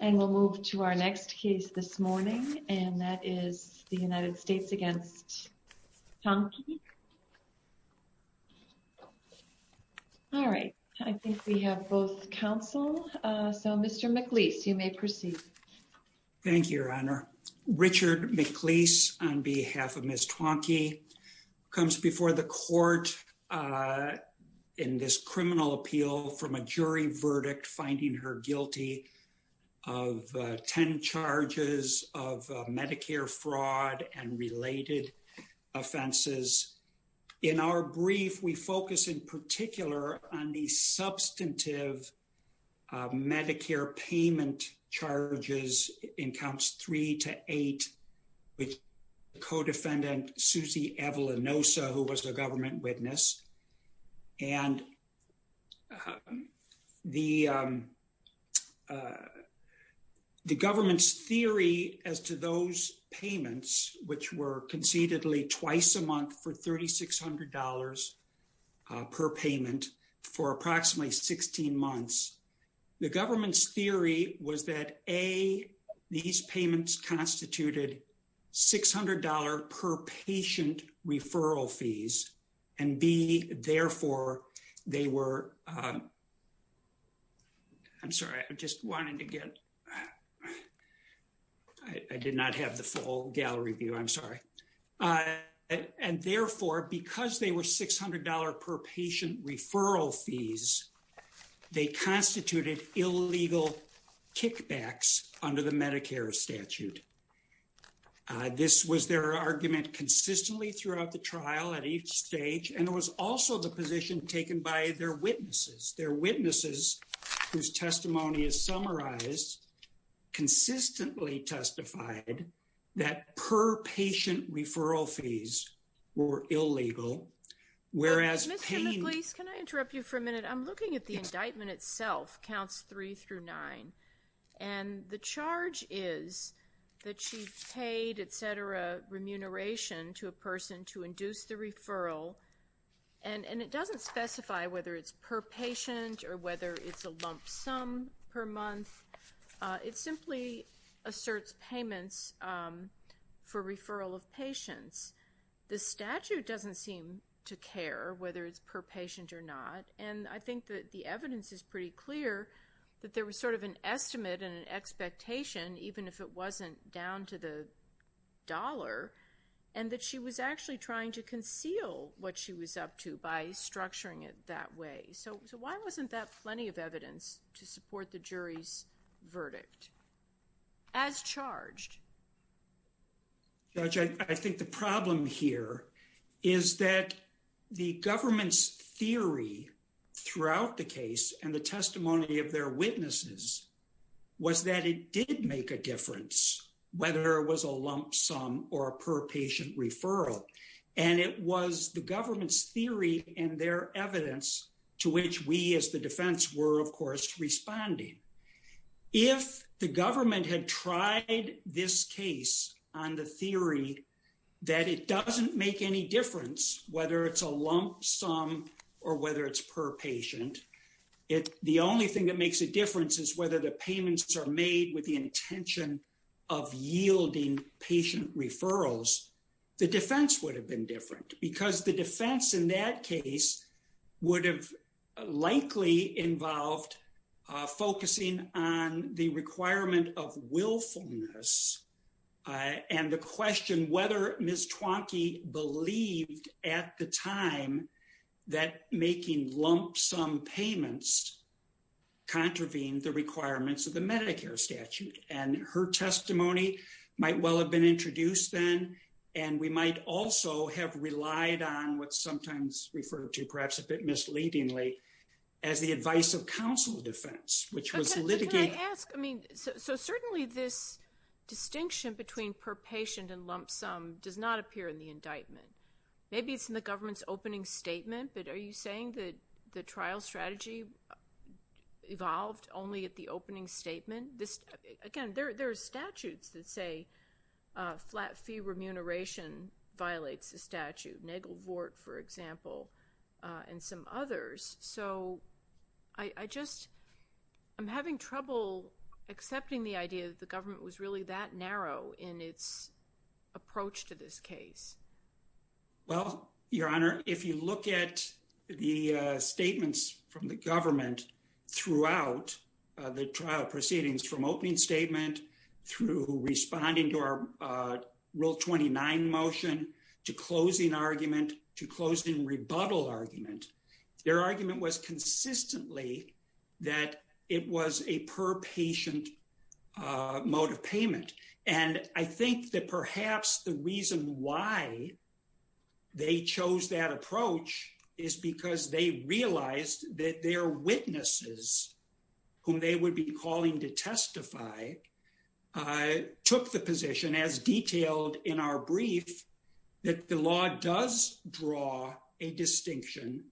and we'll move to our next case this morning and that is the United States against Tuanqui. All right I think we have both counsel so Mr. McLeese you may proceed. Thank You Your Honor. Richard McLeese on behalf of Ms. Tuanqui comes before the court in this criminal appeal from a jury verdict finding her guilty of ten charges of Medicare fraud and related offenses. In our brief we focus in particular on the substantive Medicare payment charges in counts three to eight with co-defendant Susie Avalonosa who was a government witness and the government's theory as to those payments which were concededly twice a month. The government's theory was that A these payments constituted $600 per patient referral fees and B therefore they were I'm sorry I just wanted to get I did not have the full gallery view I'm sorry and therefore because they were $600 per patient referral fees they constituted illegal kickbacks under the Medicare statute. This was their argument consistently throughout the trial at each stage and it was also the position taken by their witnesses. Their witnesses whose testimony is summarized consistently testified that per patient referral fees were illegal whereas Mr. McLeese can I interrupt you for a minute I'm looking at the indictment itself counts three through nine and the charge is that she paid etc remuneration to a person to induce the referral and and it doesn't specify whether it's per patient or whether it's a lump sum per month it simply asserts payments for referral of patients. The statute doesn't seem to care whether it's per patient or not and I think that the evidence is pretty clear that there was sort of an estimate and an expectation even if it wasn't down to the dollar and that she was actually trying to conceal what she was up to by structuring it that way so so why wasn't that plenty of evidence to support the jury's verdict as charged? Judge I think the problem here is that the government's theory throughout the case and the testimony of their witnesses was that it did make a difference whether it was a lump sum or a per patient referral and it was the government's theory and their evidence to which we as the defense were of course responding. If the government had tried this case on the theory that it doesn't make any difference whether it's a lump sum or whether it's per patient it the only thing that makes a difference is whether the payments are made with the intention of yielding patient referrals. The defense would have been different because the defense in that case would have likely involved focusing on the requirement of willfulness and the question whether Ms. Twonky believed at the time that making lump sum payments contravened the requirements of the Medicare statute and her testimony might well have been introduced then and we might also have relied on what's sometimes referred to perhaps a bit misleadingly as the advice of counsel defense which was litigated. Can I ask I mean so certainly this distinction between per patient and lump sum does not appear in the indictment. Maybe it's in the evolved only at the opening statement this again there are statutes that say a flat fee remuneration violates the statute. Nagelvort for example and some others so I just I'm having trouble accepting the idea that the government was really that narrow in its approach to this case. Well your honor if you look at the statements from the government throughout the trial proceedings from opening statement through responding to our rule 29 motion to closing argument to closing rebuttal argument their argument was consistently that it was a per patient mode of payment and I think that perhaps the reason why they chose that approach is because they realized that their witnesses whom they would be calling to testify took the position as detailed in our brief that the law does draw a distinction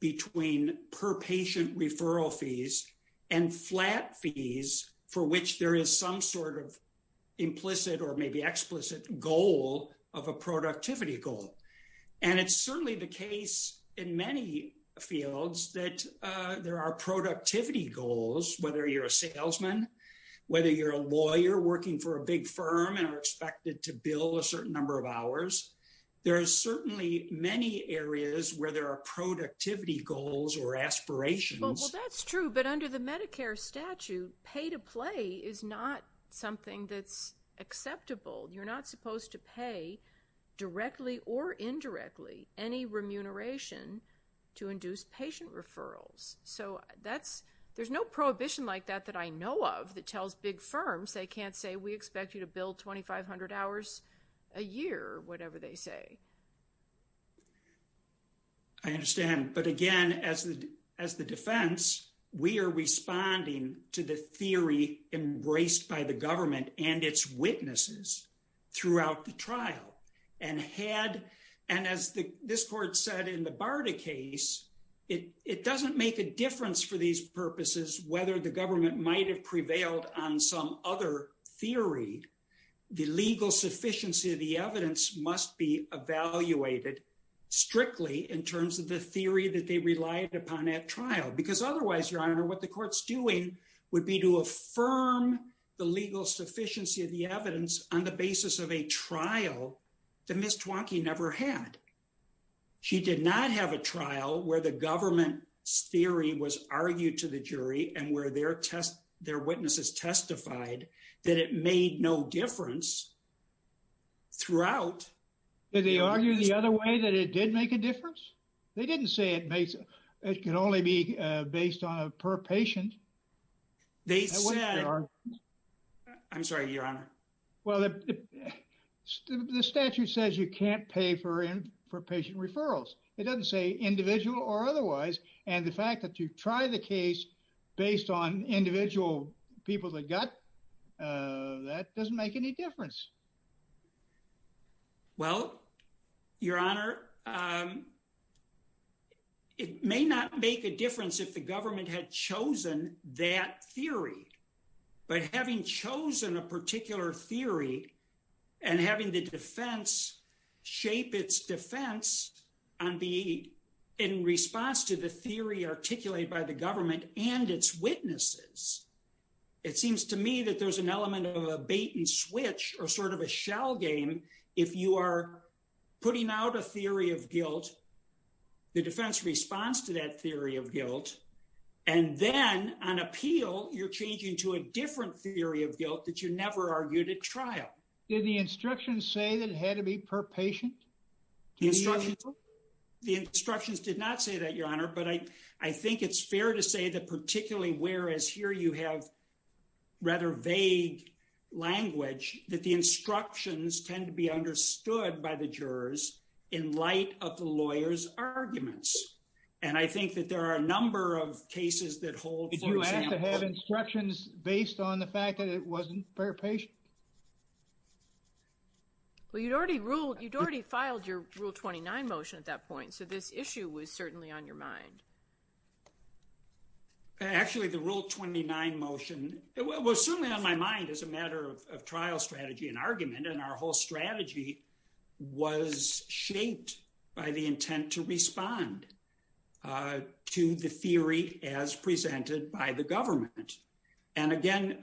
between per patient referral fees and flat fees for which there is some sort of implicit or maybe explicit goal of a productivity goal and it's certainly the case in many fields that there are productivity goals whether you're a salesman whether you're a lawyer working for a big firm and are expected to bill a certain number of hours there are certainly many areas where there are productivity goals or aspirations. Well that's true but under the medicare statute pay to play is not something that's acceptable you're not supposed to pay directly or indirectly any remuneration to induce patient referrals so that's there's no prohibition like that that I know of that tells big firms they can't say we expect you to build 2,500 hours a year whatever they say. I understand but again as the as the defense we are responding to the theory embraced by the government and its witnesses throughout the trial and had and as the this court said in the barda case it it doesn't make a difference for these purposes whether the government might have evaluated strictly in terms of the theory that they relied upon at trial because otherwise your honor what the court's doing would be to affirm the legal sufficiency of the evidence on the basis of a trial that Ms. Twonky never had. She did not have a trial where the government's theory was argued to the jury and where their test their witnesses testified that it made no difference throughout. Did they argue the other way that it did make a difference? They didn't say it makes it can only be based on a per patient. They said I'm sorry your honor. Well the statute says you can't pay for in for patient referrals it doesn't say individual or otherwise and the fact that you try the case based on individual people that got that doesn't make any difference. Well your honor um it may not make a difference if the government had chosen that theory but having chosen a particular theory and having the defense shape its defense on the in response to the theory articulated by the government and its witnesses it seems to me there's an element of a bait and switch or sort of a shell game if you are putting out a theory of guilt the defense responds to that theory of guilt and then on appeal you're changing to a different theory of guilt that you never argued at trial. Did the instructions say that it had to be per patient? The instructions did not say that your honor but I I think it's fair to say that particularly whereas here you have rather vague language that the instructions tend to be understood by the jurors in light of the lawyer's arguments and I think that there are a number of cases that hold. Did you have to have instructions based on the fact that it wasn't per patient? Well you'd already ruled you'd already filed your rule 29 motion at that point so this issue was certainly on your mind. Actually the rule 29 motion was certainly on my mind as a matter of trial strategy and argument and our whole strategy was shaped by the intent to respond to the theory as presented by the government and again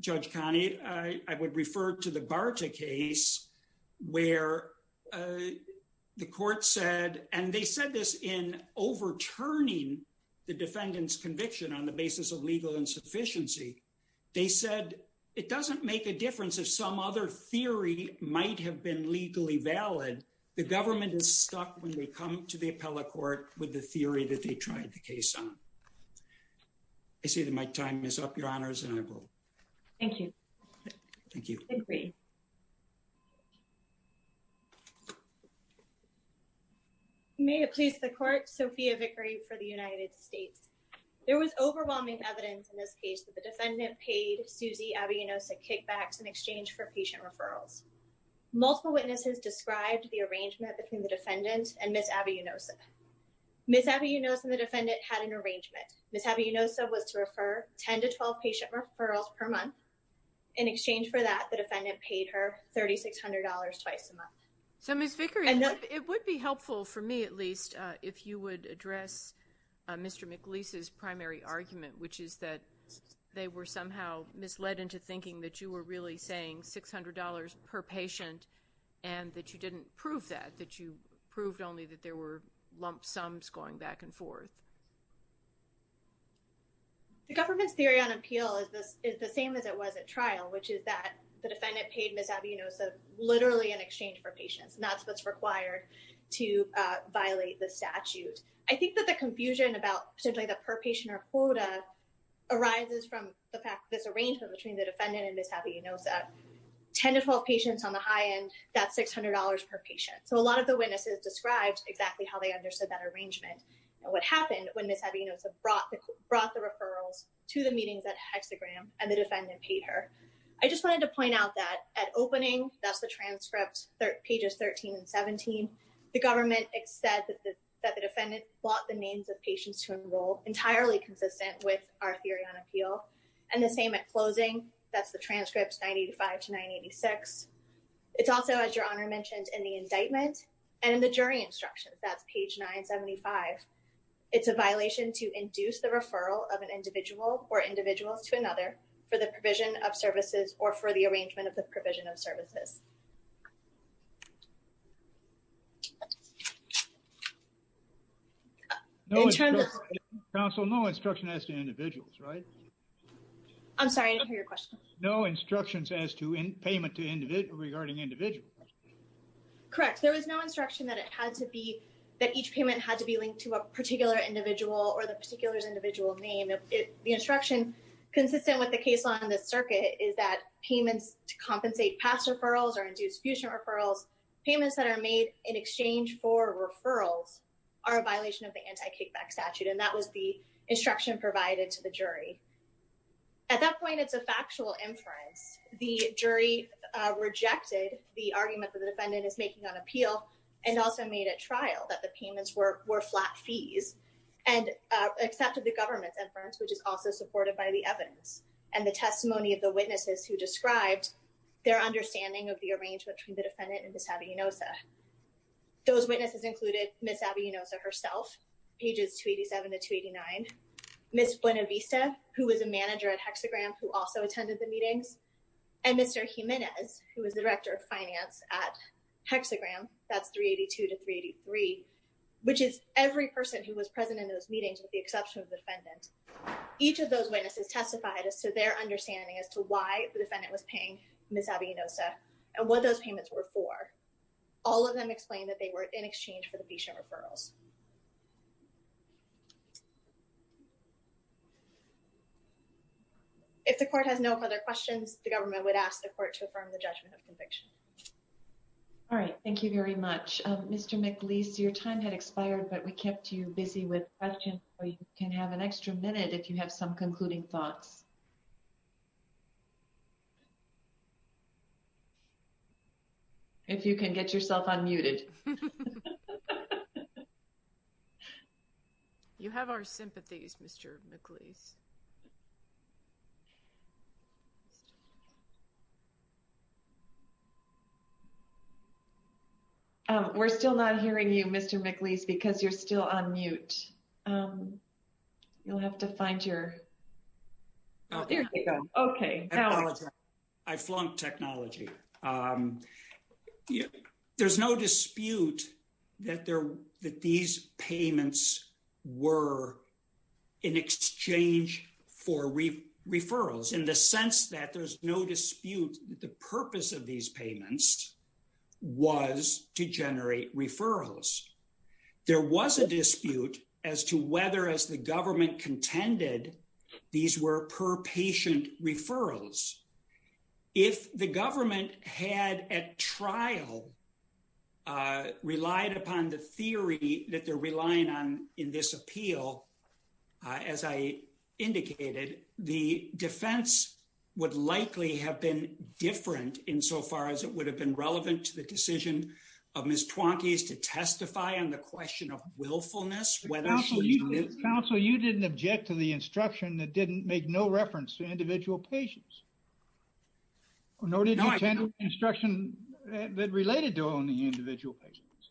Judge Connie I would refer to the Barta case where the court said and they said this in overturning the defendant's conviction on the basis of legal insufficiency they said it doesn't make a difference if some other theory might have been legally valid the government is stuck when they come to the appellate court with the theory that they tried the case on. I see that my time is up your honors and I vote. Thank you. Thank you. You may have pleased the court. Sophia Vickery for the United States. There was overwhelming evidence in this case that the defendant paid Susie Abiunosa kickbacks in exchange for patient referrals. Multiple witnesses described the arrangement between the defendant and Ms. Abiunosa. Ms. Abiunosa and the defendant had an arrangement. Ms. Abiunosa was to refer 10 to 12 patient referrals per month in exchange for that the defendant paid her $3,600 twice a month. So Ms. Vickery it would be helpful for me at least if you would address Mr. McLeese's primary argument which is that they were somehow misled into thinking that you were really saying $600 per patient and that you didn't prove that that you proved only that there were on appeal is this is the same as it was at trial which is that the defendant paid Ms. Abiunosa literally in exchange for patients and that's what's required to violate the statute. I think that the confusion about simply the per patient or quota arises from the fact this arrangement between the defendant and Ms. Abiunosa 10 to 12 patients on the high end that's $600 per patient. So a lot of the witnesses described exactly how they understood that arrangement and what hexagram and the defendant paid her. I just wanted to point out that at opening that's the transcripts pages 13 and 17 the government said that the defendant bought the names of patients to enroll entirely consistent with our theory on appeal and the same at closing that's the transcripts 985 to 986. It's also as your honor mentioned in the indictment and in the jury instructions that's page 975. It's a violation to induce the referral of an individual or individuals to another for the provision of services or for the arrangement of the provision of services. In terms of counsel no instruction as to individuals right. I'm sorry I didn't hear your question. No instructions as to in payment to individual regarding individuals. Correct there was no instruction that it had to be that each payment had to be linked to a particular individual or the particular's individual name. The instruction consistent with the case law in this circuit is that payments to compensate past referrals or induced fusion referrals payments that are made in exchange for referrals are a violation of the anti-kickback statute and that was the instruction provided to the jury. At that point it's a factual inference. The jury rejected the and also made a trial that the payments were were flat fees and accepted the government's inference which is also supported by the evidence and the testimony of the witnesses who described their understanding of the arrangement between the defendant and Ms. Avellinoza. Those witnesses included Ms. Avellinoza herself pages 287 to 289. Ms. Buenavista who was a manager at hexagram who also attended the meetings and Mr. Jimenez who was the director of finance at hexagram that's 382 to 383 which is every person who was present in those meetings with the exception of the defendant. Each of those witnesses testified as to their understanding as to why the defendant was paying Ms. Avellinoza and what those payments were for. All of them explained that they were in exchange for the patient referrals. If the court has no other questions the government would ask the court to affirm the judgment of conviction. All right thank you very much. Mr. McLeese your time had expired but we kept you busy with questions so you can have an extra minute if you have some concluding thoughts. If you can get yourself unmuted. You have our sympathies Mr. McLeese. We're still not hearing you Mr. McLeese because you're still on mute. You'll have to find your oh there you go okay. I flunked technology. There's no dispute that there that these the purpose of these payments was to generate referrals. There was a dispute as to whether as the government contended these were per patient referrals. If the government had at trial relied upon the theory that they're relying on in this appeal as I indicated the defense would likely have been different in so far as it would have been relevant to the decision of Ms. Twonky's to testify on the question of willfulness. Counsel you didn't object to the instruction that didn't make no reference to individual patients nor did you attend instruction that related to only individual patients.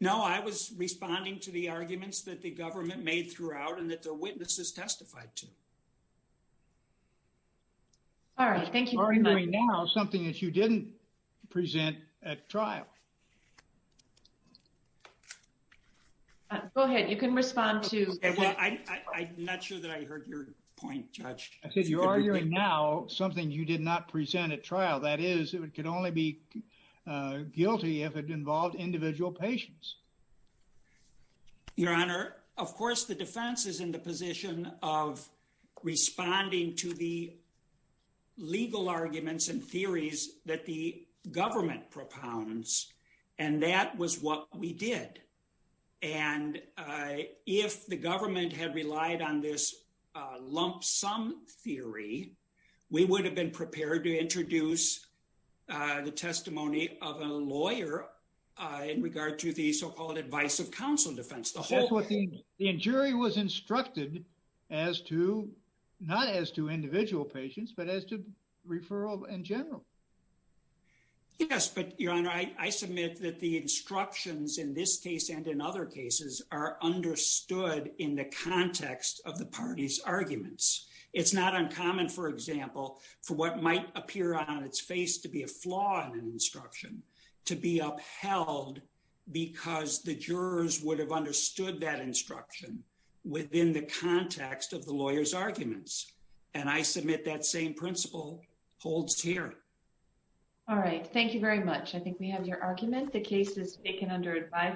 No I was responding to the arguments that the government made throughout and that the all right thank you. Now something that you didn't present at trial. Go ahead you can respond to. I'm not sure that I heard your point judge. I said you're arguing now something you did not present at trial. That is it could only be guilty if it involved individual patients. Your honor of course the defense is in the position of responding to the legal arguments and theories that the government propounds and that was what we did. And if the government had relied on this lump sum theory we would have been prepared to introduce the testimony of a lawyer in regard to the so-called advice of counsel defense. The jury was instructed as to not as to individual patients but as to referral in general. Yes but your honor I submit that the instructions in this case and in other cases are understood in the context of the party's arguments. It's not uncommon for example for what might appear on its face to be a flaw in an instruction to be upheld because the jurors would have understood that instruction within the context of the lawyer's arguments and I submit that same principle holds here. All right thank you very much. I think we have your argument the case is taken under advisement.